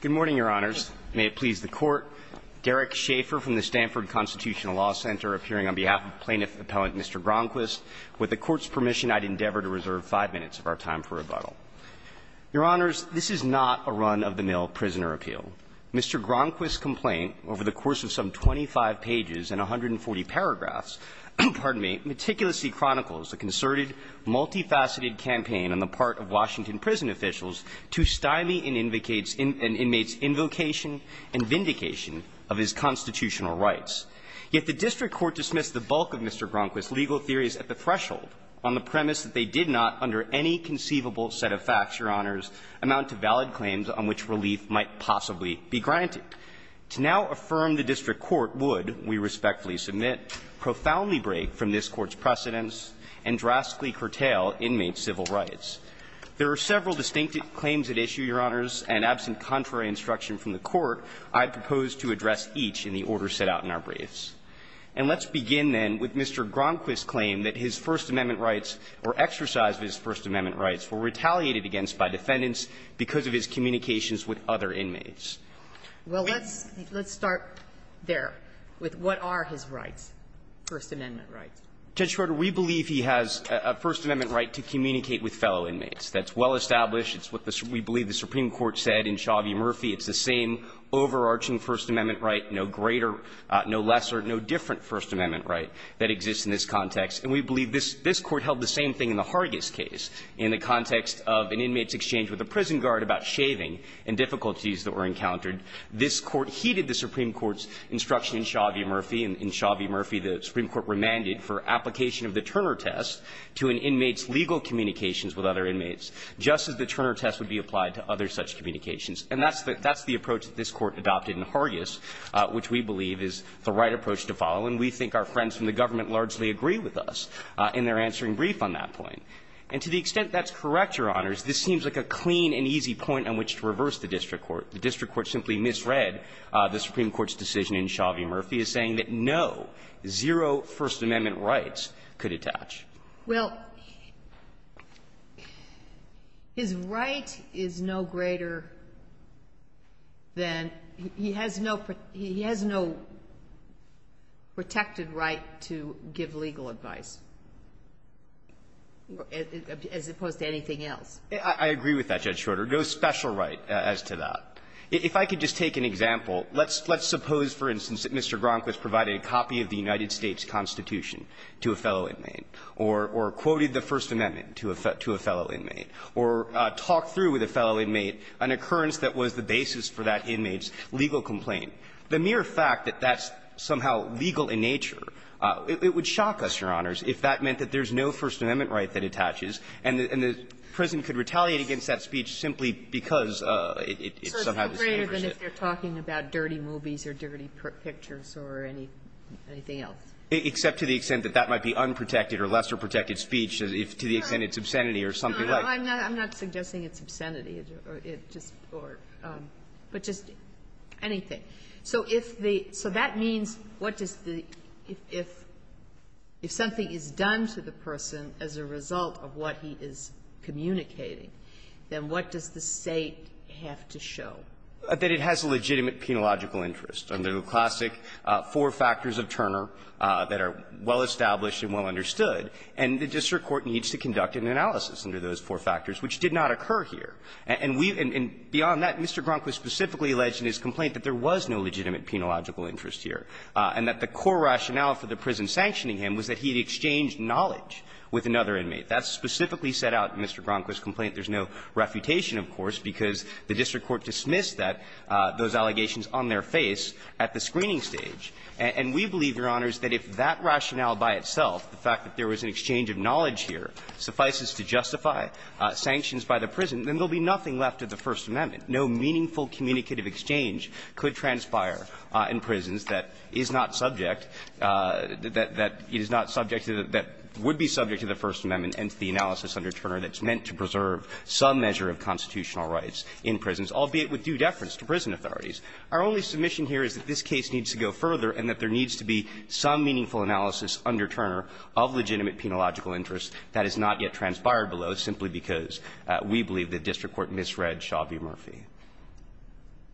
Good morning, Your Honors. May it please the Court, Derek Shaffer from the Stanford Constitutional Law Center, appearing on behalf of Plaintiff Appellant Mr. Gronquist. With the Court's permission, I'd endeavor to reserve 5 minutes of our time for rebuttal. Your Honors, this is not a run-of-the-mill prisoner appeal. Mr. Gronquist's complaint, over the course of some 25 pages and 140 paragraphs – pardon me – meticulously chronicles a concerted, multifaceted campaign on the part of Washington prison officials to stymie an inmate's invocation and vindication of his constitutional rights. Yet the district court dismissed the bulk of Mr. Gronquist's legal theories at the threshold, on the premise that they did not, under any conceivable set of facts, Your Honors, amount to valid claims on which relief might possibly be granted. To now affirm the district court would, we respectfully submit, profoundly break from this Court's precedents and drastically curtail inmate's civil rights. There are several distinctive claims at issue, Your Honors, and absent contrary instruction from the Court, I propose to address each in the order set out in our briefs. And let's begin, then, with Mr. Gronquist's claim that his First Amendment rights, or exercise of his First Amendment rights, were retaliated against by defendants because of his communications with other inmates. Sotomayor, let's start there with what are his rights, First Amendment rights. Judge Schroeder, we believe he has a First Amendment right to communicate with fellow inmates. That's well established. It's what we believe the Supreme Court said in Chauvie-Murphy. It's the same overarching First Amendment right, no greater, no lesser, no different First Amendment right that exists in this context. And we believe this Court held the same thing in the Hargis case. In the context of an inmate's exchange with a prison guard about shaving and difficulties that were encountered, this Court heeded the Supreme Court's instruction in Chauvie-Murphy. In Chauvie-Murphy, the Supreme Court remanded for application of the Turner test to an inmate's legal communications with other inmates, just as the Turner test would be applied to other such communications. And that's the approach that this Court adopted in Hargis, which we believe is the right approach to follow, and we think our friends from the government largely agree with us in their answering brief on that point. And to the extent that's correct, Your Honors, this seems like a clean and easy point on which to reverse the district court. The district court simply misread the Supreme Court's decision in Chauvie-Murphy as saying that no, zero First Amendment rights could attach. Well, his right is no greater than he has no pre- he has no right to have a First Amendment-protected right to give legal advice as opposed to anything else. I agree with that, Judge Shorter. No special right as to that. If I could just take an example. Let's suppose, for instance, that Mr. Gronkow has provided a copy of the United States Constitution to a fellow inmate, or quoted the First Amendment to a fellow inmate, or talked through with a fellow inmate an occurrence that was the basis for that inmate's legal complaint. The mere fact that that's somehow legal in nature, it would shock us, Your Honors, if that meant that there's no First Amendment right that attaches, and the prison could retaliate against that speech simply because it somehow disenfranchises it. So it's greater than if they're talking about dirty movies or dirty pictures or anything else? Except to the extent that that might be unprotected or lesser-protected speech, to the extent it's obscenity or something like that. No, I'm not suggesting it's obscenity, but just anything. So if the – so that means what does the – if something is done to the person as a result of what he is communicating, then what does the State have to show? That it has a legitimate penological interest, under the classic four factors of Turner that are well-established and well-understood. And the district court needs to conduct an analysis under those four factors, which did not occur here. And we – and beyond that, Mr. Gronkow has specifically alleged in his complaint that there was no legitimate penological interest here, and that the core rationale for the prison sanctioning him was that he had exchanged knowledge with another inmate. That's specifically set out in Mr. Gronkow's complaint. There's no refutation, of course, because the district court dismissed that, those allegations on their face at the screening stage. And we believe, Your Honors, that if that rationale by itself, the fact that there was an exchange of knowledge here, suffices to justify sanctions by the prison, then there will be nothing left of the First Amendment. No meaningful communicative exchange could transpire in prisons that is not subject – that is not subject to the – that would be subject to the First Amendment and to the analysis under Turner that's meant to preserve some measure of constitutional rights in prisons, albeit with due deference to prison authorities. Our only submission here is that this case needs to go further, and that there needs to be some meaningful analysis under Turner of legitimate penological interest that has not yet transpired below, simply because we believe the district court misread Shabby Murphy.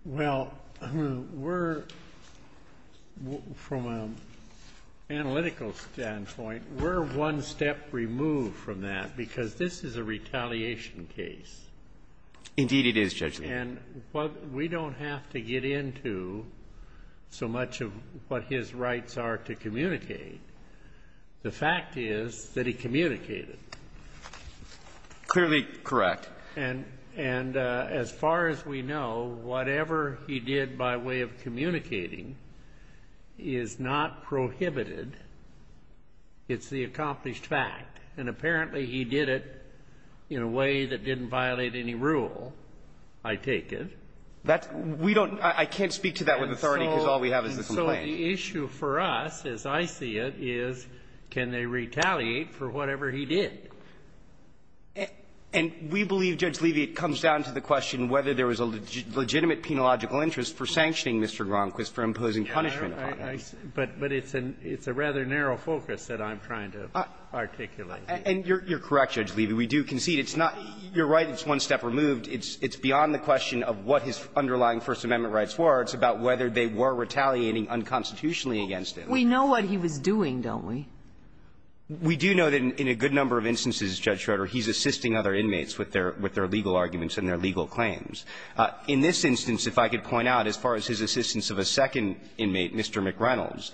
Well, we're – from an analytical standpoint, we're one step removed from that because this is a retaliation case. Indeed, it is, Judge Lee. And what – we don't have to get into so much of what his rights are to communicate. The fact is that he communicated. Clearly correct. And as far as we know, whatever he did by way of communicating is not prohibited. It's the accomplished fact. And apparently he did it in a way that didn't violate any rule. I take it. That's – we don't – I can't speak to that with authority because all we have is the complaint. And so the issue for us, as I see it, is can they retaliate for whatever he did? And we believe, Judge Levy, it comes down to the question whether there was a legitimate penological interest for sanctioning Mr. Gronquist for imposing punishment upon him. But it's a rather narrow focus that I'm trying to articulate. And you're correct, Judge Levy. We do concede it's not – you're right, it's one step removed. It's beyond the question of what his underlying First Amendment rights were. It's about whether they were retaliating unconstitutionally against him. We know what he was doing, don't we? We do know that in a good number of instances, Judge Schroeder, he's assisting other inmates with their legal arguments and their legal claims. In this instance, if I could point out, as far as his assistance of a second inmate, Mr. McReynolds,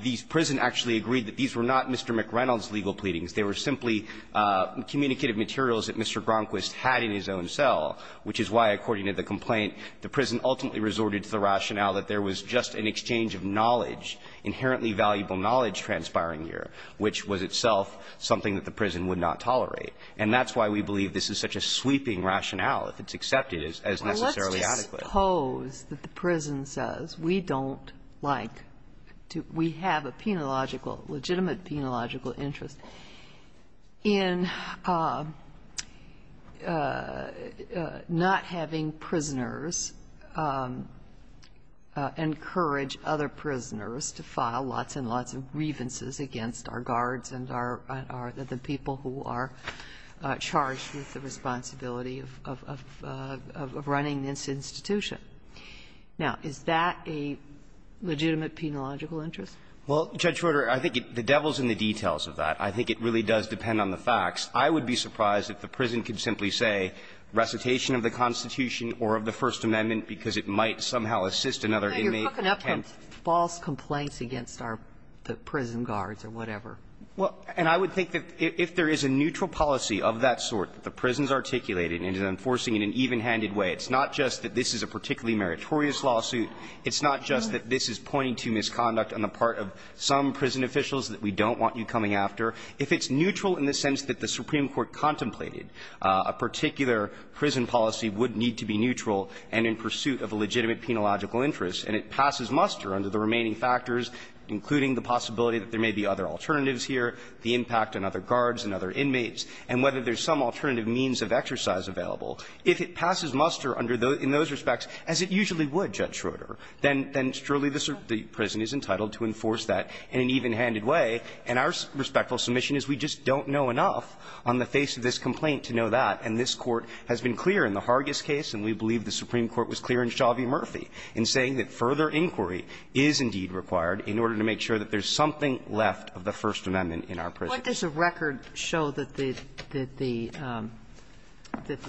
the prison actually agreed that these were not Mr. McReynolds' legal pleadings. They were simply communicative materials that Mr. Gronquist had in his own cell, which is why, according to the complaint, the prison ultimately resorted to the rationale that there was just an exchange of knowledge, inherently valuable knowledge transpiring here, which was itself something that the prison would not tolerate. And that's why we believe this is such a sweeping rationale, if it's accepted as necessarily adequate. Well, let's just suppose that the prison says, we don't like to – we have a penological – legitimate penological interest in not having prisoners encourage other prisoners to file lots and lots of grievances against our guards and our – the people who are charged with the responsibility of running this institution. Now, is that a legitimate penological interest? Well, Judge Roder, I think the devil's in the details of that. I think it really does depend on the facts. I would be surprised if the prison could simply say, recitation of the Constitution or of the First Amendment, because it might somehow assist another inmate. Kagan, you're hooking up false complaints against our prison guards or whatever. Well, and I would think that if there is a neutral policy of that sort that the prison has articulated and is enforcing in an evenhanded way, it's not just that this is a particularly meritorious lawsuit, it's not just that this is pointing to misconduct on the part of some prison officials that we don't want you coming after. If it's neutral in the sense that the Supreme Court contemplated a particular prison policy would need to be neutral and in pursuit of a legitimate penological interest, and it passes muster under the remaining factors, including the possibility that there may be other alternatives here, the impact on other guards and other inmates, and whether there's some alternative means of exercise available. If it passes muster under those – in those respects, as it usually would, Judge Schroeder, then surely the prison is entitled to enforce that in an evenhanded way, and our respectful submission is we just don't know enough on the face of this complaint to know that, and this Court has been clear in the Hargis case, and we believe the Supreme Court was clear in Chauvy-Murphy, in saying that further inquiry is indeed required in order to make sure that there's something left of the First Amendment in our prison. Kagan. What does the record show that the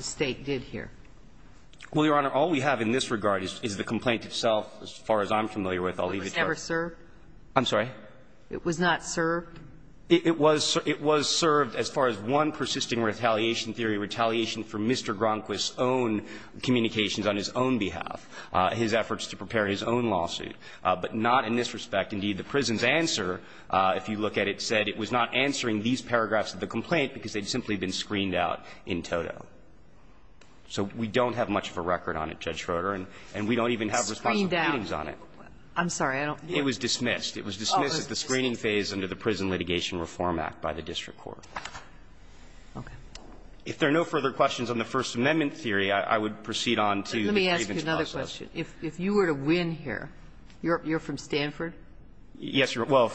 State did here? Well, Your Honor, all we have in this regard is the complaint itself, as far as I'm familiar with. I'll leave it to her. It was never served? I'm sorry? It was not served? It was served as far as one persisting retaliation theory, retaliation for Mr. Gronquist's own communications on his own behalf, his efforts to prepare his own lawsuit, but not in this respect. Indeed, the prison's answer, if you look at it, said it was not answering these paragraphs of the complaint because they'd simply been screened out in toto. So we don't have much of a record on it, Judge Schroeder, and we don't even have responsible readings on it. I'm sorry, I don't know. It was dismissed. It was dismissed at the screening phase under the Prison Litigation Reform Act by the district court. Okay. If there are no further questions on the First Amendment theory, I would proceed on to the grievance process. Let me ask you another question. If you were to win here, you're from Stanford? Yes, well,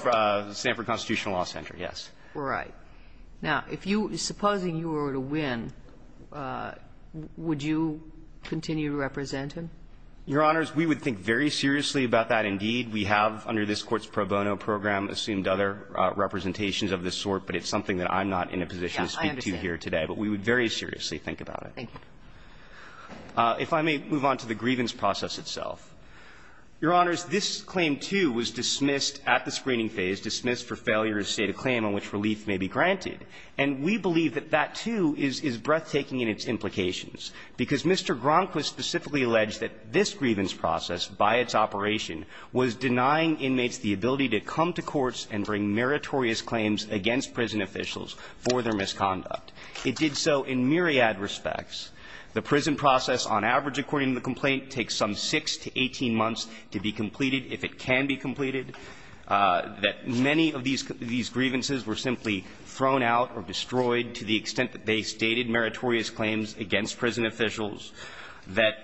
Stanford Constitutional Law Center, yes. Right. Now, if you were to win, would you continue to represent him? Your Honors, we would think very seriously about that, indeed. We have, under this Court's pro bono program, assumed other representations of this sort, but it's something that I'm not in a position to speak to here today. But we would very seriously think about it. Thank you. If I may move on to the grievance process itself. Your Honors, this claim, too, was dismissed at the screening phase, dismissed for failure to state a claim on which relief may be granted. And we believe that that, too, is breathtaking in its implications, because Mr. Gronkwa specifically alleged that this grievance process, by its operation, was denying inmates the ability to come to courts and bring meritorious claims against prison officials for their misconduct. It did so in myriad respects. The prison process, on average, according to the complaint, takes some 6 to 18 months to be completed, if it can be completed. That many of these grievances were simply thrown out or destroyed to the extent that they stated meritorious claims against prison officials, that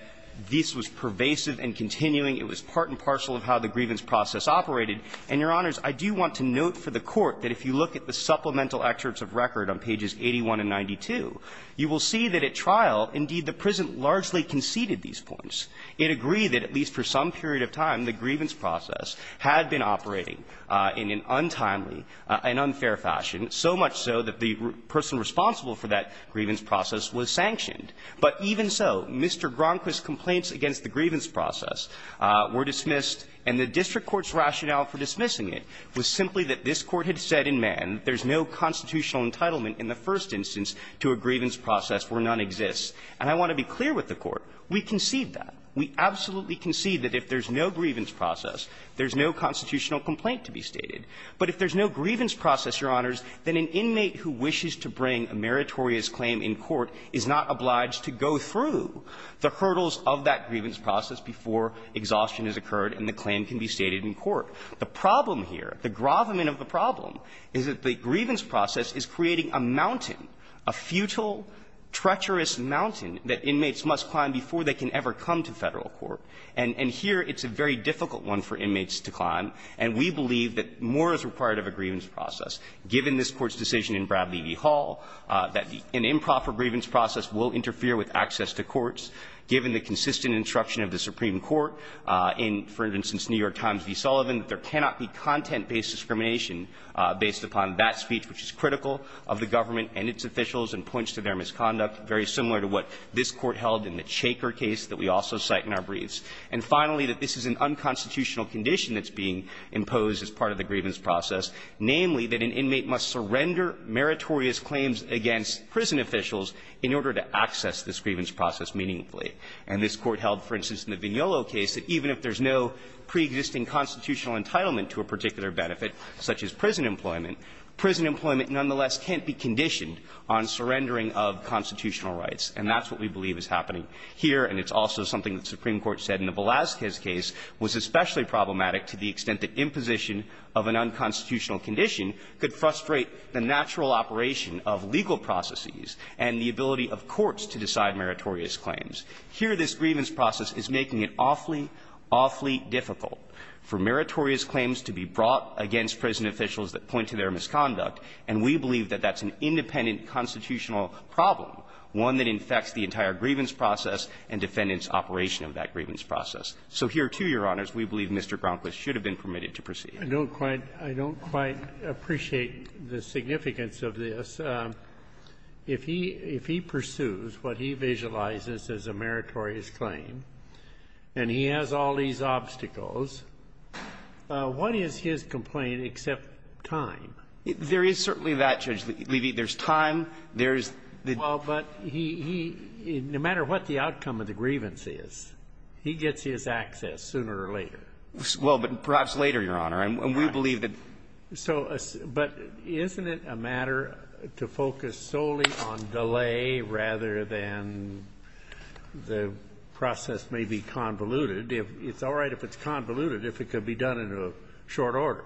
this was pervasive and continuing. It was part and parcel of how the grievance process operated. And, Your Honors, I do want to note for the Court that if you look at the supplemental excerpts of record on pages 81 and 92, you will see that at trial, indeed, the prison largely conceded these points. It agreed that at least for some period of time the grievance process had been operating in an untimely and unfair fashion, so much so that the person responsible for that grievance process was sanctioned. But even so, Mr. Gronkwa's complaints against the grievance process were dismissed, and the district court's rationale for dismissing it was simply that this Court had said in Mann that there's no constitutional entitlement in the first instance to a grievance process where none exists. And I want to be clear with the Court, we concede that. We absolutely concede that if there's no grievance process, there's no constitutional complaint to be stated. But if there's no grievance process, Your Honors, then an inmate who wishes to bring a meritorious claim in court is not obliged to go through the hurdles of that grievance process before exhaustion has occurred and the claim can be stated in court. The problem here, the grovement of the problem, is that the grievance process is creating a mountain, a futile, treacherous mountain that inmates must climb before they can ever come to Federal court. And here it's a very difficult one for inmates to climb, and we believe that more is required of a grievance process, given this Court's decision in Bradlee v. Hall that an improper grievance process will interfere with access to courts, given the consistent instruction of the Supreme Court in, for instance, New York Times v. Sullivan, that there cannot be content-based discrimination based upon that speech, which is critical of the government and its officials and points to their misconduct, very similar to what this Court held in the Shaker case that we also cite in our briefs, and finally, that this is an unconstitutional condition that's being imposed as part of the grievance process, namely that an inmate must surrender meritorious claims against prison officials in order to access this grievance process meaningfully. And this Court held, for instance, in the Vignolo case, that even if there's no preexisting constitutional entitlement to a particular benefit, such as prison employment, prison employment nonetheless can't be conditioned on surrendering of constitutional rights, and that's what we believe is happening here. And it's also something that the Supreme Court said in the Velazquez case was especially problematic to the extent that imposition of an unconstitutional condition could frustrate the natural operation of legal processes and the ability of courts to decide meritorious claims. Here, this grievance process is making it awfully, awfully difficult. For meritorious claims to be brought against prison officials that point to their misconduct, and we believe that that's an independent constitutional problem, one that infects the entire grievance process and defendants' operation of that grievance process. So here, too, Your Honors, we believe Mr. Gromquist should have been permitted to proceed. I don't quite – I don't quite appreciate the significance of this. If he – if he pursues what he visualizes as a meritorious claim, and he has all these obstacles, what is his complaint except time? There is certainly that, Judge Levy. There's time. There's the – Well, but he – he – no matter what the outcome of the grievance is, he gets his access sooner or later. Well, but perhaps later, Your Honor. And we believe that – So – but isn't it a matter to focus solely on delay rather than the process may be convoluted, if it's all right if it's convoluted, if it could be done in a short order?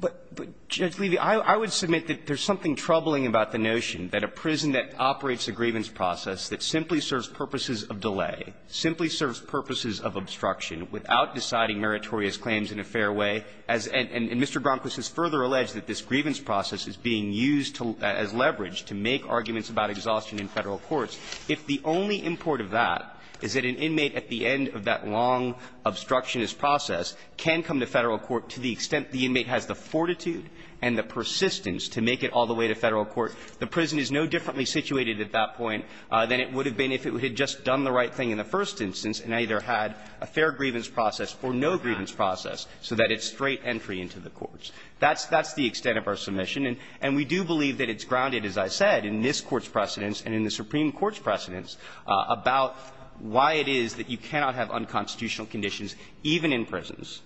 But, Judge Levy, I would submit that there's something troubling about the notion that a prison that operates a grievance process that simply serves purposes of delay, simply serves purposes of obstruction, without deciding meritorious claims in a fair way, as – and Mr. Gromquist has further alleged that this grievance process is being used as leverage to make arguments about exhaustion in Federal courts, if the only import of that is that an inmate at the end of that long obstructionist process can come to Federal court to the extent the inmate has the fortitude and the persistence to make it all the way to Federal court, the prison is no differently situated at that point than it would have been if it had just done the right thing in the first instance and either had a fair grievance process or no grievance process so that it's straight entry into the courts. That's – that's the extent of our submission, and we do believe that it's grounded, as I said, in this Court's precedents and in the Supreme Court's precedents, about why it is that you cannot have unconstitutional conditions even in prisons,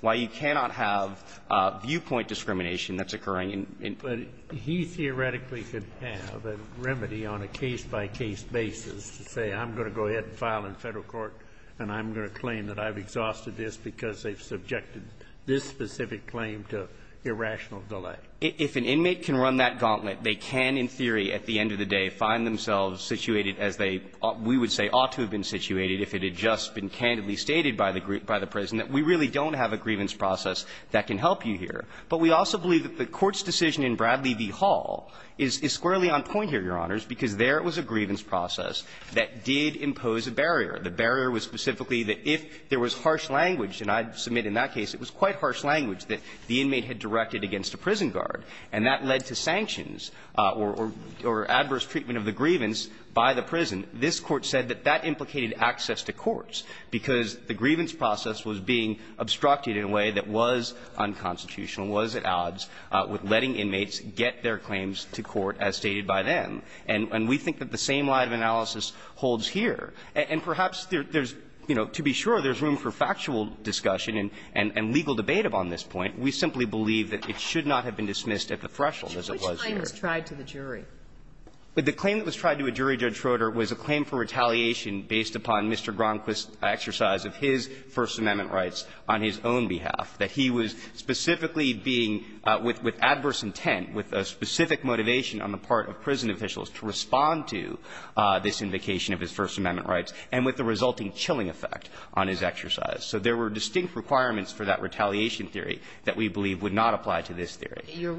why you cannot have viewpoint discrimination that's occurring in prison. Kennedy. But he theoretically could have a remedy on a case-by-case basis to say, I'm going to go ahead and file in Federal court, and I'm going to claim that I've exhausted this because they've subjected this specific claim to irrational delay. If an inmate can run that gauntlet, they can, in theory, at the end of the day, find themselves situated as they, we would say, ought to have been situated if it had just been candidly stated by the prison that we really don't have a grievance process that can help you here. But we also believe that the Court's decision in Bradley v. Hall is squarely on point here, Your Honors, because there it was a grievance process that did impose a barrier. The barrier was specifically that if there was harsh language, and I submit in that case it was quite harsh language, that the inmate had directed against a prison guard, and that led to sanctions or adverse treatment of the grievance by the prison. This Court said that that implicated access to courts, because the grievance process was being obstructed in a way that was unconstitutional, was at odds with letting inmates get their claims to court as stated by them. And we think that the same line of analysis holds here. And perhaps there's, you know, to be sure, there's room for factual discussion and legal debate upon this point. We simply believe that it should not have been dismissed at the threshold as it was here. Kagan. Kagan. But which claim was tried to the jury? The claim that was tried to a jury, Judge Schroeder, was a claim for retaliation based upon Mr. Gromquist's exercise of his First Amendment rights on his own behalf, that he was specifically being, with adverse intent, with a specific motivation on the part of prison officials to respond to this invocation of his First Amendment rights, and with the resulting chilling effect on his exercise. So there were distinct requirements for that retaliation theory that we believe would not apply to this theory. You're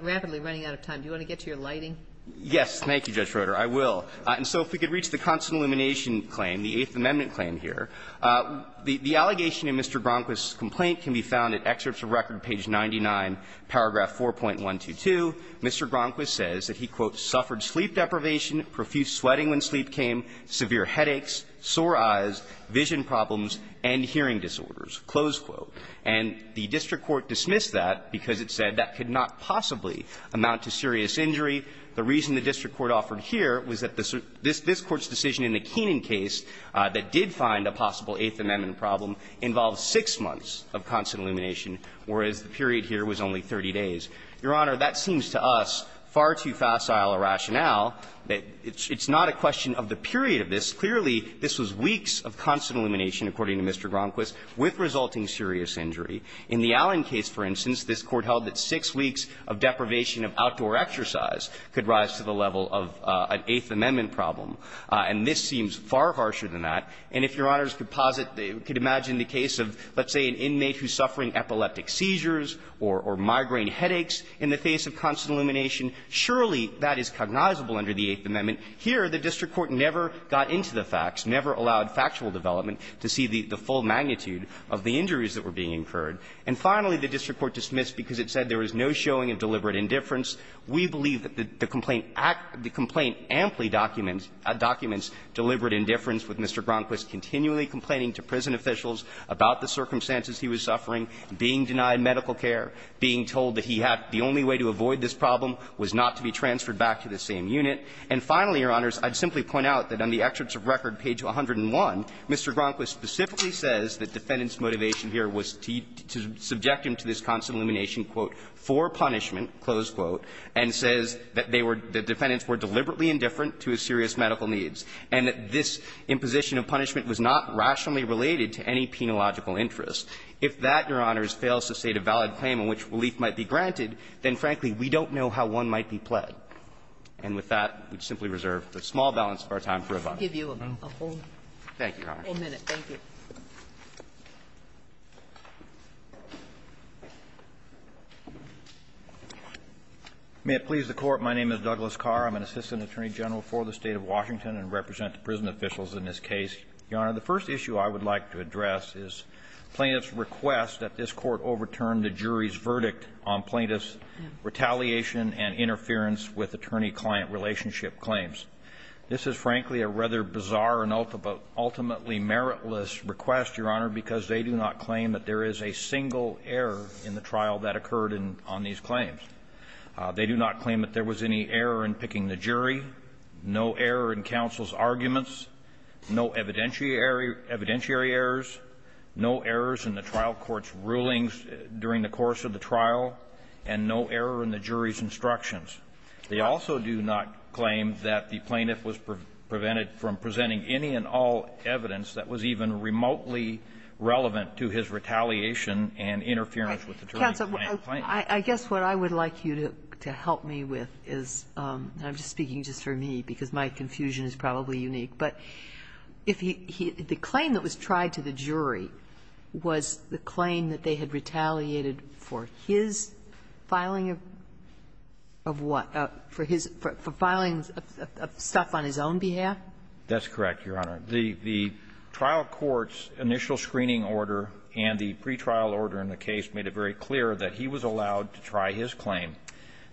rapidly running out of time. Do you want to get to your lighting? Yes. Thank you, Judge Schroeder. I will. And so if we could reach the constant elimination claim, the Eighth Amendment claim here, the allegation in Mr. Gromquist's complaint can be found at Excerpts of Record, page 99, paragraph 4.122. Mr. Gromquist says that he, quote, And the district court dismissed that because it said that could not possibly amount to serious injury. The reason the district court offered here was that this Court's decision in the Keenan case that did find a possible Eighth Amendment problem involved six months of constant elimination, whereas the period here was only 30 days. Your Honor, that seems to us far too facile a rationale that it's not a question of the period of this. Clearly, this was weeks of constant elimination, according to Mr. Gromquist, with resulting serious injury. In the Allen case, for instance, this Court held that six weeks of deprivation of outdoor exercise could rise to the level of an Eighth Amendment problem. And this seems far harsher than that. And if Your Honors could posit, could imagine the case of, let's say, an inmate who's suffering epileptic seizures or migraine headaches in the face of constant elimination, surely that is cognizable under the Eighth Amendment. Here, the district court never got into the facts, never allowed factual development to see the full magnitude of the injuries that were being incurred. And finally, the district court dismissed because it said there was no showing of deliberate indifference. We believe that the complaint amply documents deliberate indifference, with Mr. Gromquist continually complaining to prison officials about the circumstances he was suffering, being denied medical care, being told that he had the only way to avoid this problem was not to be transferred back to the same unit. And finally, Your Honors, I'd simply point out that on the excerpts of record, page 101, Mr. Gromquist specifically says that defendant's motivation here was to subject him to this constant elimination, quote, for punishment, close quote, and says that they were the defendants were deliberately indifferent to his serious medical needs, and that this imposition of punishment was not rationally related to any penological interest. If that, Your Honors, fails to state a valid claim on which relief might be granted, then, frankly, we don't know how one might be pled. And with that, we simply reserve a small balance of our time for rebuttal. Thank you, Your Honors. May it please the Court, my name is Douglas Carr. I'm an assistant attorney general for the State of Washington and represent the prison officials in this case. Your Honor, the first issue I would like to address is plaintiff's request that this Court overturn the jury's verdict on plaintiff's retaliation and interference with attorney-client relationship claims. This is, frankly, a rather bizarre and ultimately meritless request, Your Honor, because they do not claim that there is a single error in the trial that occurred on these claims. They do not claim that there was any error in picking the jury, no error in counsel's arguments, no evidentiary errors, no errors in the trial court's rulings during the course of the trial, and no error in the jury's instructions. They also do not claim that the plaintiff was prevented from presenting any and all evidence that was even remotely relevant to his retaliation and interference with attorney-client claims. I guess what I would like you to help me with is, and I'm speaking just for me because my confusion is probably unique, but if he the claim that was tried to the jury was the claim that they had retaliated for his filing of what, for his, for filing of stuff on his own behalf? That's correct, Your Honor. The trial court's initial screening order and the pretrial order in the case made it very clear that he was allowed to try his claim,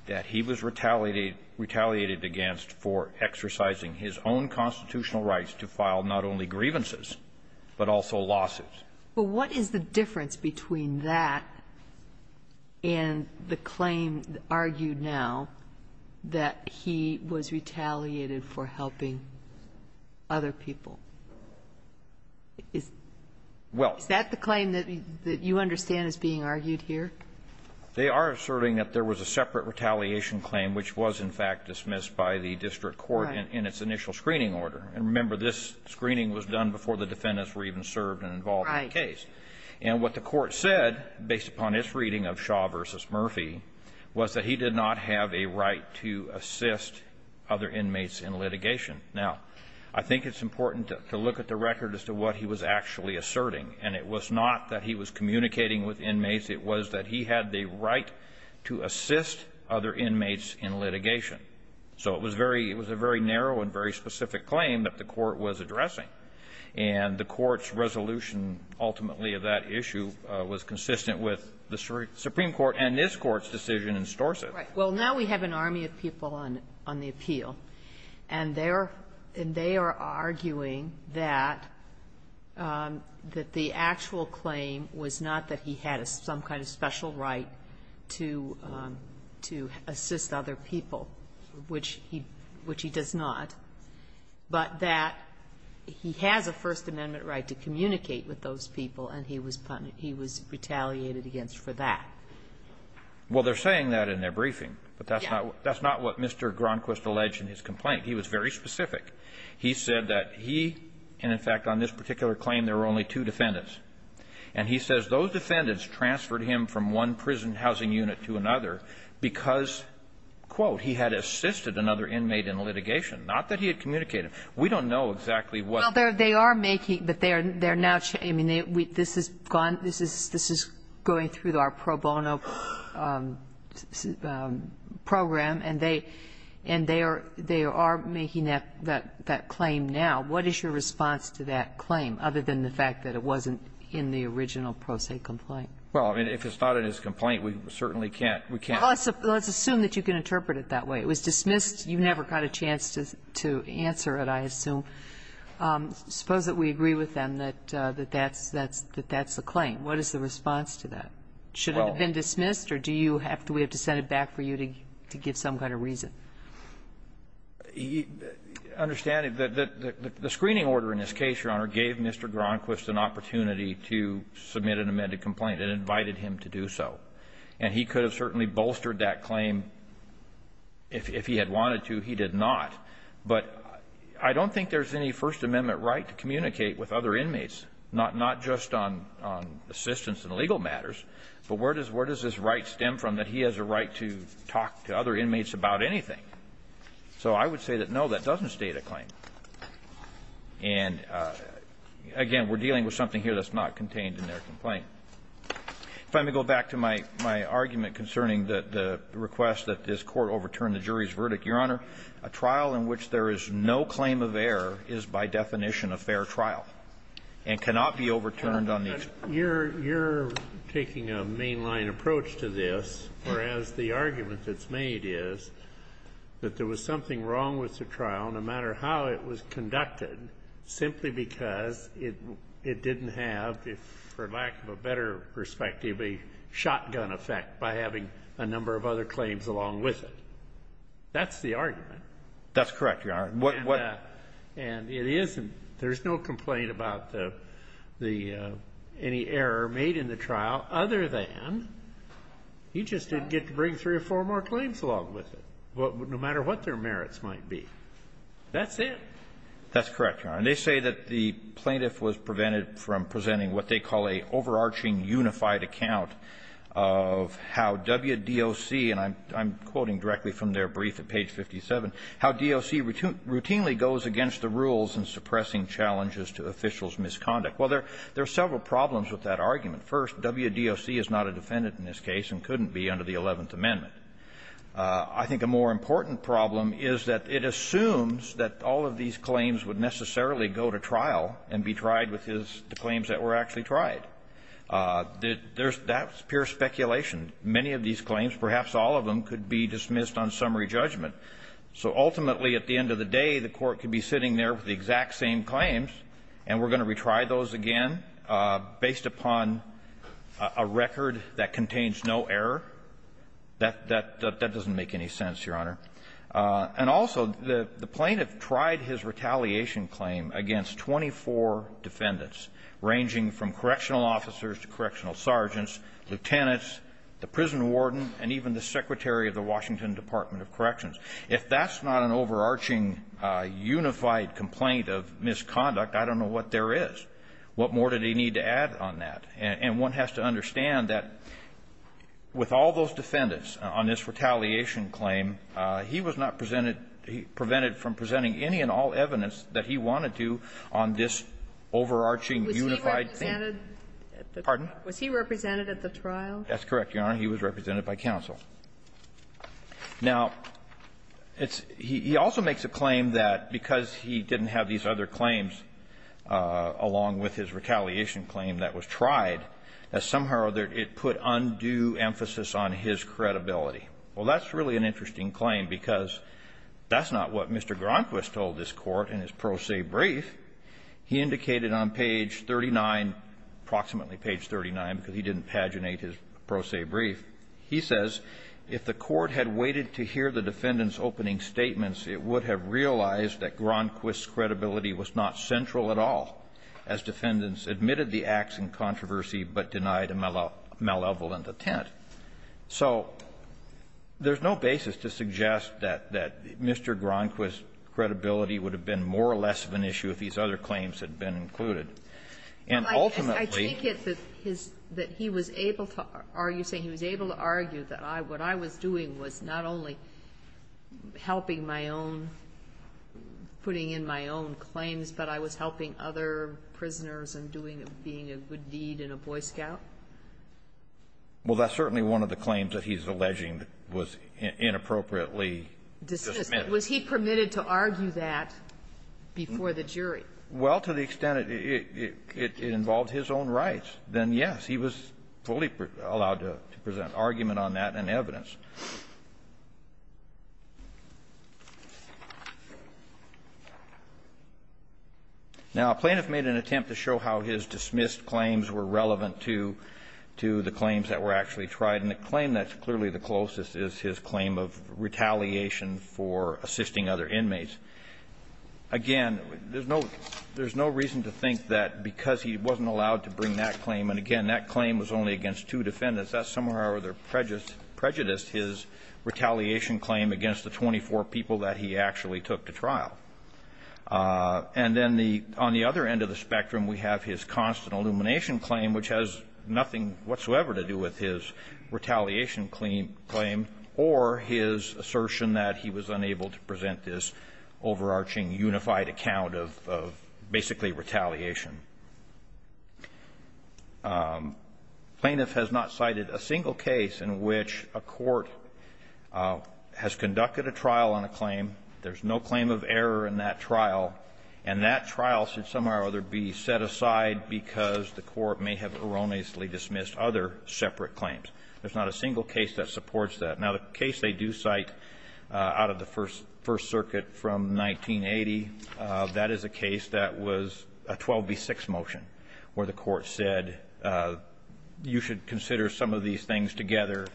that he was retaliated against for exercising his own constitutional rights to file not only grievances, but also losses. But what is the difference between that and the claim argued now that he was retaliated for helping other people? Is that the claim that you understand is being argued here? They are asserting that there was a separate retaliation claim which was in fact dismissed by the district court in its initial screening order. And remember, this screening was done before the defendants were even served and involved in the case. Right. And what the Court said, based upon its reading of Shaw v. Murphy, was that he did not have a right to assist other inmates in litigation. Now, I think it's important to look at the record as to what he was actually asserting. And it was not that he was communicating with inmates. It was that he had the right to assist other inmates in litigation. So it was very ñ it was a very narrow and very specific claim that the Court was addressing. And the Court's resolution, ultimately, of that issue was consistent with the Supreme Court and this Court's decision in Storrset. Right. Well, now we have an army of people on the appeal. And they are arguing that the actual claim was not that he had some kind of special right to assist other people, which he does not, but that he has a First Amendment right to communicate with those people, and he was retaliated against for that. Well, they're saying that in their briefing, but that's not what Mr. Gronquist alleged in his complaint. He was very specific. He said that he ñ and, in fact, on this particular claim, there were only two defendants. And he says those defendants transferred him from one prison housing unit to another because, quote, he had assisted another inmate in litigation, not that he had communicated. We don't know exactly what ñ Well, they are making ñ but they are now ñ I mean, this is gone ñ this is going through our pro bono program, and they are making that claim now. What is your response to that claim, other than the fact that it wasn't in the original pro se complaint? Well, I mean, if it's not in his complaint, we certainly can't ñ we can't ñ Well, let's assume that you can interpret it that way. It was dismissed. You never got a chance to answer it, I assume. Suppose that we agree with them that that's the claim. What is the response to that? Should it have been dismissed, or do you have to ñ do we have to send it back for you to give some kind of reason? Understanding that the screening order in this case, Your Honor, gave Mr. Gronquist an opportunity to submit an amended complaint and invited him to do so. And he could have certainly bolstered that claim if he had wanted to. He did not. But I don't think there's any First Amendment right to communicate with other inmates, not just on assistance in legal matters, but where does this right stem from that he has a right to talk to other inmates about anything? So I would say that, no, that doesn't state a claim. And, again, we're dealing with something here that's not contained in their complaint. If I may go back to my argument concerning the request that this Court overturn the jury's verdict, Your Honor, a trial in which there is no claim of error is, by definition, a fair trial. And cannot be overturned on the ñ But you're ñ you're taking a mainline approach to this, whereas the argument that's made is that there was something wrong with the trial, no matter how it was conducted, simply because it didn't have, for lack of a better perspective, a shotgun effect by having a number of other claims along with it. That's the argument. That's correct, Your Honor. What ñ what ñ And it isn't ñ there's no complaint about the ñ the ñ any error made in the trial other than he just didn't get to bring three or four more claims along with it, no matter what their merits might be. That's it. That's correct, Your Honor. And they say that the plaintiff was prevented from presenting what they call a overarching, unified account of how WDOC ñ and I'm ñ I'm quoting directly from their brief at page 57 ñ how DOC routinely goes against the rules in suppressing challenges to officials' misconduct. Well, there are several problems with that argument. First, WDOC is not a defendant in this case and couldn't be under the Eleventh Amendment. I think a more important problem is that it assumes that all of these claims would necessarily go to trial and be tried with his ñ the claims that were actually tried. There's ñ that's pure speculation. Many of these claims, perhaps all of them, could be dismissed on summary judgment. So ultimately, at the end of the day, the Court could be sitting there with the exact same claims and we're going to retry those again based upon a record that contains no error? That ñ that doesn't make any sense, Your Honor. And also, the plaintiff tried his retaliation claim against 24 defendants, ranging from correctional officers to correctional sergeants, lieutenants, the prison warden, and even the secretary of the Washington Department of Corrections. If that's not an overarching, unified complaint of misconduct, I don't know what there is. What more do they need to add on that? And one has to understand that with all those defendants on this retaliation claim, he was not presented ñ prevented from presenting any and all evidence that he wanted to on this overarching, unified claim. Was he represented at the ñ Pardon? Was he represented at the trial? That's correct, Your Honor. He was represented by counsel. Now, it's ñ he also makes a claim that because he didn't have these other claims along with his retaliation claim that was tried, that somehow or other it put undue emphasis on his credibility. Well, that's really an interesting claim because that's not what Mr. Gronquist told this Court in his pro se brief. He indicated on page 39, approximately page 39, because he didn't paginate his pro se brief, he says if the Court had waited to hear the defendant's opening statements, it would have realized that Gronquist's credibility was not central at all as defendants admitted the acts in controversy but denied a malevolent attempt. So there's no basis to suggest that Mr. Gronquist's credibility would have been more or less of an issue if these other claims had been included. And ultimately ñ Well, I take it that his ñ that he was able to argue, saying he was able to argue that what I was doing was not only helping my own ñ putting in my own claims, but I was helping other prisoners and doing ñ being a good deed in a Boy Scout? Well, that's certainly one of the claims that he's alleging was inappropriately dismissed. Was he permitted to argue that before the jury? Well, to the extent it ñ it involved his own rights, then, yes, he was fully allowed to present argument on that and evidence. Now, a plaintiff made an attempt to show how his dismissed claims were relevant to the claims that were actually tried. And the claim that's clearly the closest is his claim of retaliation for assisting other inmates. Again, there's no ñ there's no reason to think that because he wasn't allowed to bring that claim ñ and, again, that claim was only against two defendants. That's somehow or other prejudiced his retaliation claim against the 24 people that he actually took to trial. And then the ñ on the other end of the spectrum, we have his constant illumination claim, which has nothing whatsoever to do with his retaliation claim, or his assertion that he was unable to present this overarching, unified account of ñ of basically retaliation. Plaintiff has not cited a single case in which a court has conducted a trial on a claim. There's no claim of error in that trial. And that trial should somehow or other be set aside because the court may have erroneously dismissed other separate claims. There's not a single case that supports that. Now, the case they do cite out of the First ñ First Circuit from 1980, that is a case that was a 12b6 motion, where the court said you should consider some of these things together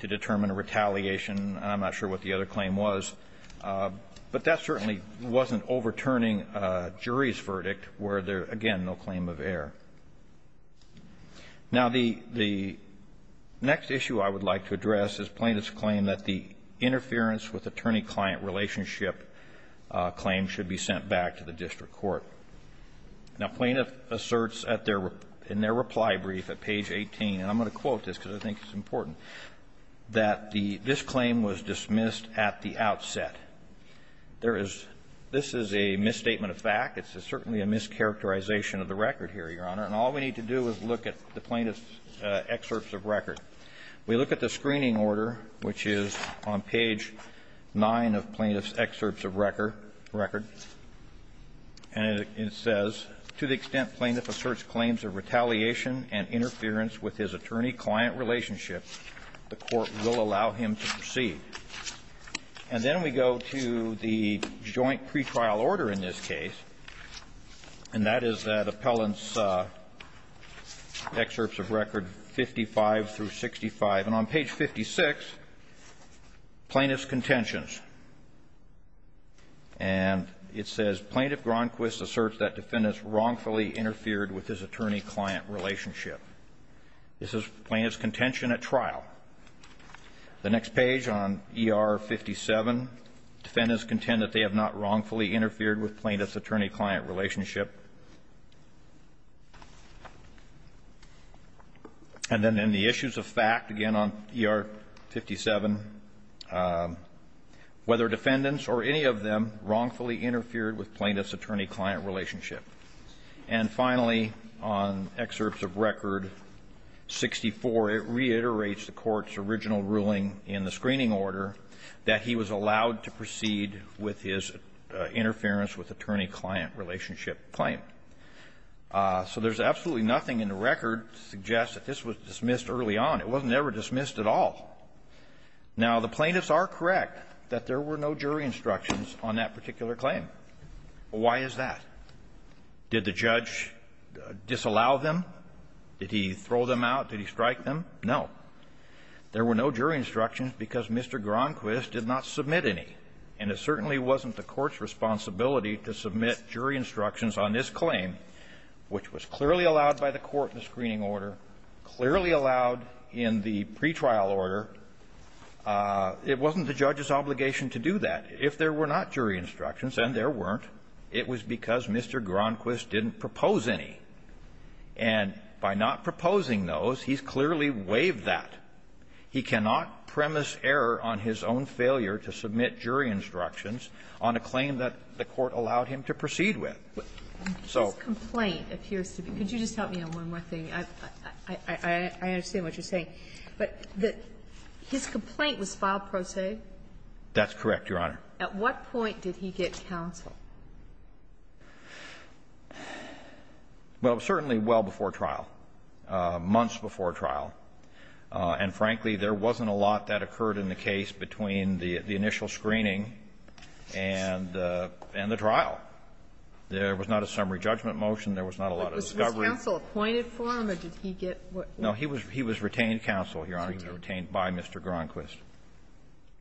to determine retaliation. I'm not sure what the other claim was. But that certainly wasn't overturning a jury's verdict where there, again, no claim of error. Now, the ñ the next issue I would like to address is plaintiff's claim that the interference with attorney-client relationship claim should be sent back to the district court. Now, plaintiff asserts at their ñ in their reply brief at page 18, and I'm going to quote this because I think it's important, that the ñ this claim was dismissed at the outset. There is ñ this is a misstatement of fact. It's certainly a mischaracterization of the record here, Your Honor. And all we need to do is look at the plaintiff's excerpts of record. We look at the screening order, which is on page 9 of plaintiff's excerpts of record ñ record. And it says, to the extent plaintiff asserts claims of retaliation and interference with his attorney-client relationship, the court will allow him to proceed. And then we go to the joint pretrial order in this case, and that is the appellant's excerpts of record 55 through 65. And on page 56, plaintiff's contentions. And it says, plaintiff Gronquist asserts that defendants wrongfully interfered with his attorney-client relationship. This is plaintiff's contention at trial. The next page on ER 57, defendants contend that they have not wrongfully interfered with plaintiff's attorney-client relationship. And then in the issues of fact, again, on ER 57, whether defendants or any of them wrongfully interfered with plaintiff's attorney-client relationship. And finally, on excerpts of record 64, it reiterates the court's original ruling in the screening order that he was allowed to proceed with his interference with attorney-client relationship claim. So there's absolutely nothing in the record to suggest that this was dismissed early on. It wasn't ever dismissed at all. Now, the plaintiffs are correct that there were no jury instructions on that particular claim. Why is that? Did the judge disallow them? Did he throw them out? Did he strike them? No. There were no jury instructions because Mr. Gronquist did not submit any. And it certainly wasn't the court's responsibility to submit jury instructions on this claim, which was clearly allowed by the court in the screening order, clearly allowed in the pretrial order. It wasn't the judge's obligation to do that. If there were not jury instructions, and there weren't, it was because Mr. Gronquist didn't propose any. And by not proposing those, he's clearly waived that. He cannot premise error on his own failure to submit jury instructions on a claim that the court allowed him to proceed with. So the court allowed him to proceed with. Kagan. But his complaint appears to be one. Could you just help me on one more thing? I understand what you're saying. But his complaint was filed pro se? That's correct, Your Honor. At what point did he get counsel? Well, certainly well before trial, months before trial. And frankly, there wasn't a lot that occurred in the case between the initial screening and the trial. There was not a summary judgment motion. There was not a lot of discovery. Was counsel appointed for him, or did he get what he wanted? No. He was retained counsel, Your Honor. He was retained by Mr. Gronquist.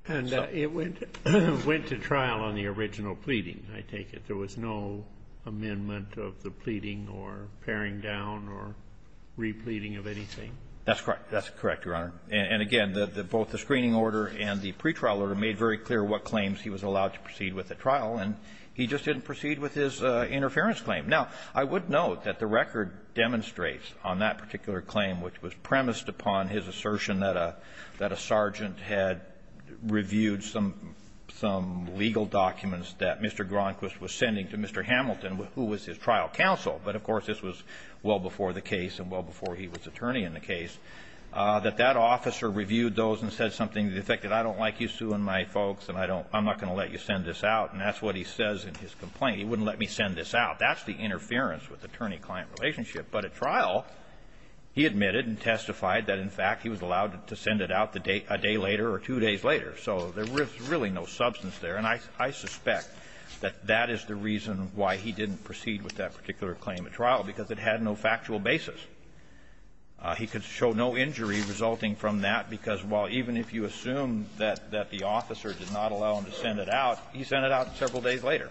And it went to trial on the original pleading, I take it. There was no amendment of the pleading or paring down or repleading of anything? That's correct. That's correct, Your Honor. And again, both the screening order and the pretrial order made very clear what claims he was allowed to proceed with at trial, and he just didn't proceed with his interference claim. Now, I would note that the record demonstrates on that particular claim, which was that Mr. Gronquist had reviewed some legal documents that Mr. Gronquist was sending to Mr. Hamilton, who was his trial counsel, but of course, this was well before the case and well before he was attorney in the case, that that officer reviewed those and said something to the effect that I don't like you suing my folks and I'm not going to let you send this out, and that's what he says in his complaint. He wouldn't let me send this out. That's the interference with attorney-client relationship. But at trial, he admitted and testified that, in fact, he was allowed to send it out a day later or two days later. So there was really no substance there, and I suspect that that is the reason why he didn't proceed with that particular claim at trial, because it had no factual basis. He could show no injury resulting from that, because while even if you assume that the officer did not allow him to send it out, he sent it out several days later,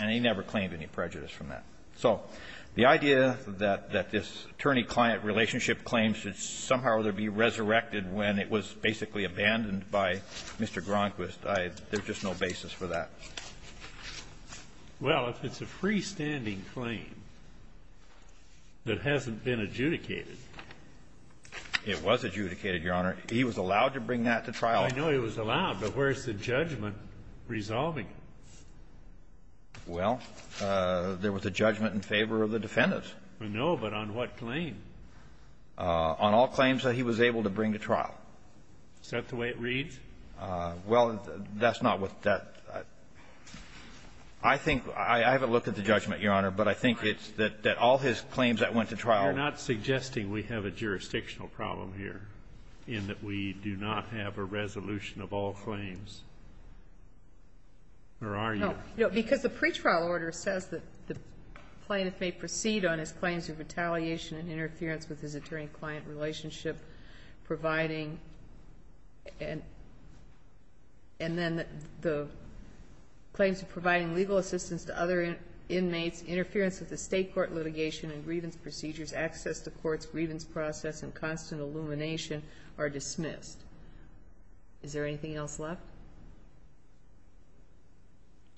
and he never claimed any prejudice from that. So the idea that this attorney-client relationship claim should somehow or other be resurrected when it was basically abandoned by Mr. Gronquist, I — there's just no basis for that. Well, if it's a freestanding claim that hasn't been adjudicated. It was adjudicated, Your Honor. He was allowed to bring that to trial. I know he was allowed, but where's the judgment resolving it? Well, there was a judgment in favor of the defendants. No, but on what claim? On all claims that he was able to bring to trial. Is that the way it reads? Well, that's not what that — I think — I haven't looked at the judgment, Your Honor, but I think it's that all his claims that went to trial — You're not suggesting we have a jurisdictional problem here in that we do not have a resolution of all claims, or are you? No, because the pretrial order says that the plaintiff may proceed on his claims of retaliation and interference with his attorney-client relationship, providing — and then the claims of providing legal assistance to other inmates, interference with the state court litigation and grievance procedures, access to courts, grievance process, and constant illumination are dismissed. Is there anything else left?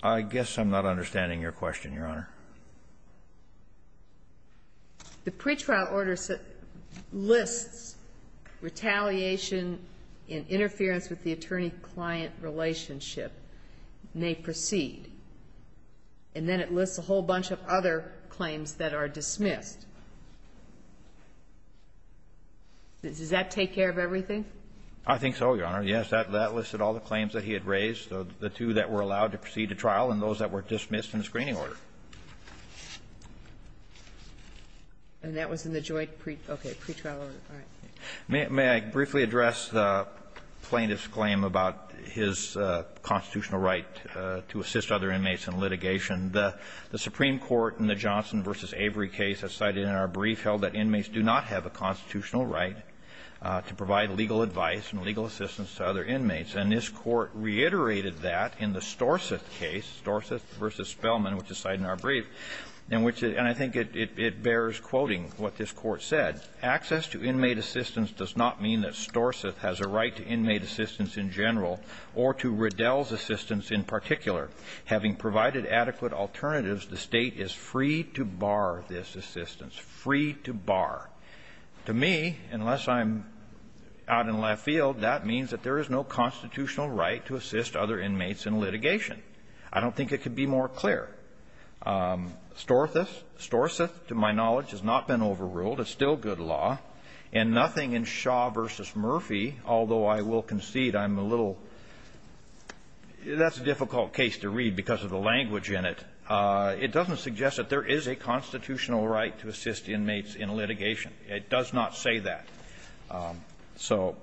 I guess I'm not understanding your question, Your Honor. The pretrial order lists retaliation and interference with the attorney-client relationship, may proceed, and then it lists a whole bunch of other claims that are dismissed. Does that take care of everything? I think so, Your Honor. Yes, that listed all the claims that he had raised, the two that were allowed to proceed to trial and those that were dismissed in the screening order. And that was in the joint pretrial order. May I briefly address the plaintiff's claim about his constitutional right to assist other inmates in litigation? The Supreme Court in the Johnson v. Avery case has cited in our brief held that inmates do not have a constitutional right to provide legal advice and legal assistance to other inmates. And this Court reiterated that in the Storseth case, Storseth v. Spellman, which is cited in our brief, in which — and I think it bears quoting what this Court said. Access to inmate assistance does not mean that Storseth has a right to inmate assistance in general or to Riddell's assistance in particular. Having provided adequate alternatives, the State is free to bar this assistance, free to bar. To me, unless I'm out in left field, that means that there is no constitutional right to assist other inmates in litigation. I don't think it could be more clear. Storseth, to my knowledge, has not been overruled. It's still good law. And nothing in Shaw v. Murphy, although I will concede I'm a little — that's a difficult case to read because of the language in it. It doesn't suggest that there is a constitutional right to assist inmates in litigation. It does not say that. So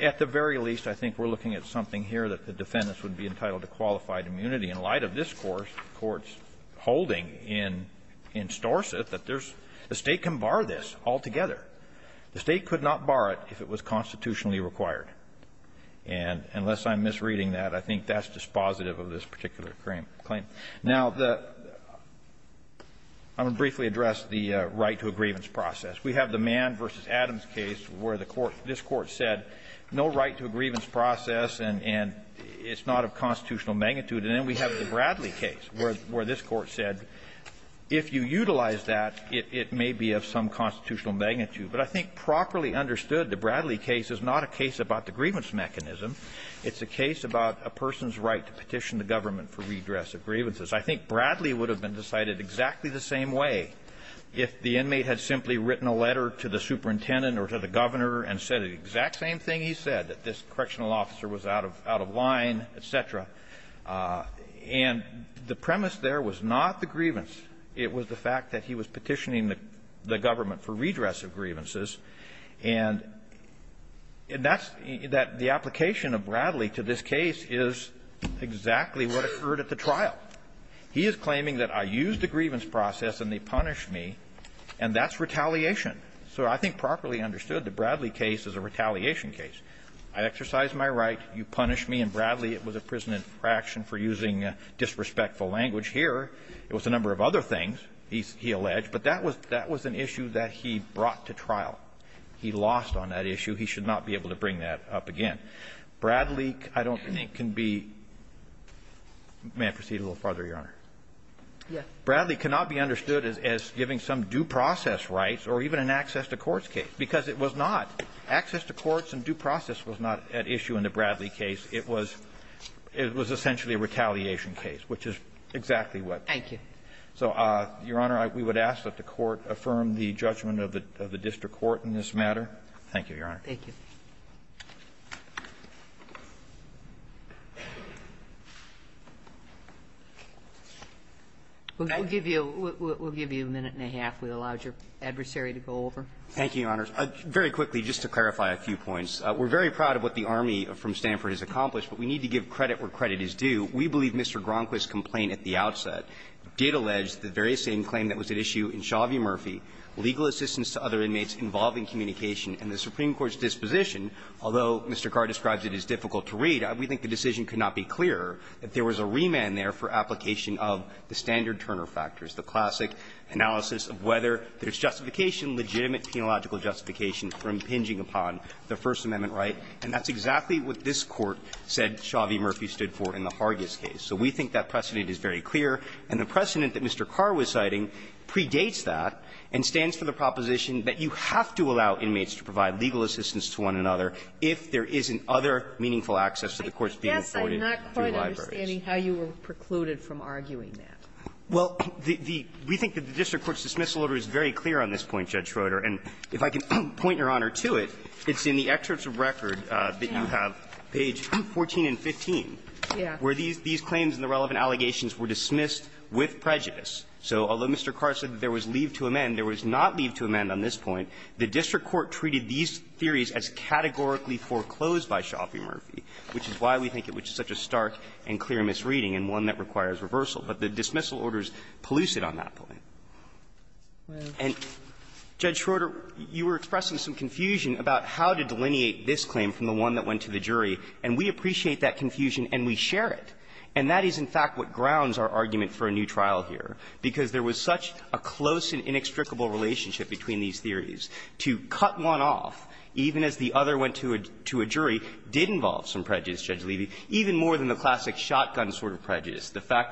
at the very least, I think we're looking at something here that the defendants would be entitled to qualified immunity. In light of this Court's holding in Storseth that there's — the State can bar this altogether. The State could not bar it if it was constitutionally required. And unless I'm misreading that, I think that's dispositive of this particular claim. Now, the — I'm going to briefly address the right to a grievance process. We have the Mann v. Adams case where the court — this Court said no right to a grievance process and it's not of constitutional magnitude. And then we have the Bradley case where this Court said if you utilize that, it may be of some constitutional magnitude. But I think properly understood, the Bradley case is not a case about the grievance mechanism. It's a case about a person's right to petition the government for redress of grievances. I think Bradley would have been decided exactly the same way if the inmate had simply written a letter to the superintendent or to the governor and said the exact same thing he said, that this correctional officer was out of line, et cetera. And the premise there was not the grievance. It was the fact that he was petitioning the government for redress of grievances. And that's — that the application of Bradley to this case is exactly what occurred at the trial. He is claiming that I used the grievance process and they punished me, and that's retaliation. So I think properly understood, the Bradley case is a retaliation case. I exercised my right. You punished me in Bradley. It was a prison infraction for using disrespectful language here. It was a number of other things, he alleged. But that was — that was an issue that he brought to trial. He lost on that issue. He should not be able to bring that up again. Bradley, I don't think, can be — may I proceed a little farther, Your Honor? Yes. Bradley cannot be understood as giving some due process rights or even an access to courts case, because it was not. Access to courts and due process was not at issue in the Bradley case. It was — it was essentially a retaliation case, which is exactly what — Thank you. So, Your Honor, we would ask that the Court affirm the judgment of the district court in this matter. Thank you, Your Honor. Thank you. We'll give you a minute and a half. We allowed your adversary to go over. Thank you, Your Honors. Very quickly, just to clarify a few points. We're very proud of what the Army from Stanford has accomplished, but we need to give We believe Mr. Gronquist's complaint at the outset. It did allege the very same claim that was at issue in Chauvie-Murphy, legal assistance to other inmates involving communication, and the Supreme Court's disposition, although Mr. Carr describes it as difficult to read, we think the decision could not be clearer, that there was a remand there for application of the standard Turner factors, the classic analysis of whether there's justification, legitimate, penological justification for impinging upon the First Amendment right. And that's exactly what this Court said Chauvie-Murphy stood for in the Hargis case. So we think that precedent is very clear, and the precedent that Mr. Carr was citing predates that and stands for the proposition that you have to allow inmates to provide legal assistance to one another if there isn't other meaningful access to the courts being afforded through libraries. I guess I'm not quite understanding how you were precluded from arguing that. Well, the we think that the district court's dismissal order is very clear on this point, Judge Schroeder, and if I can point, Your Honor, to it, it's in the excerpts of record that you have, page 14 and 15, where these claims and the relevant allegations were dismissed with prejudice. So although Mr. Carr said that there was leave to amend, there was not leave to amend on this point. The district court treated these theories as categorically foreclosed by Chauvie-Murphy, which is why we think it was such a stark and clear misreading and one that requires reversal. But the dismissal order is pellucid on that point. And, Judge Schroeder, you were expressing some confusion about how to delineate this claim from the one that went to the jury, and we appreciate that confusion and we share it. And that is, in fact, what grounds our argument for a new trial here, because there was such a close and inextricable relationship between these theories. To cut one off, even as the other went to a jury, did involve some prejudice, the fact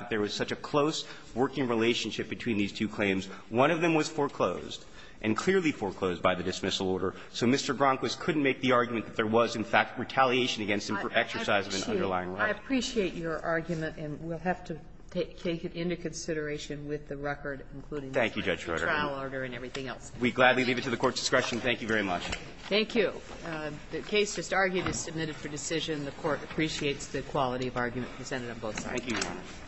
that there was such a close working relationship between these two claims. One of them was foreclosed and clearly foreclosed by the dismissal order. So Mr. Gronkowicz couldn't make the argument that there was, in fact, retaliation against him for exercising an underlying right. I appreciate your argument, and we'll have to take it into consideration with the record, including the trial order and everything else. We gladly leave it to the Court's discretion. Thank you very much. Thank you. The case just argued is submitted for decision. The Court appreciates the quality of argument presented on both sides. Thank you, Your Honor.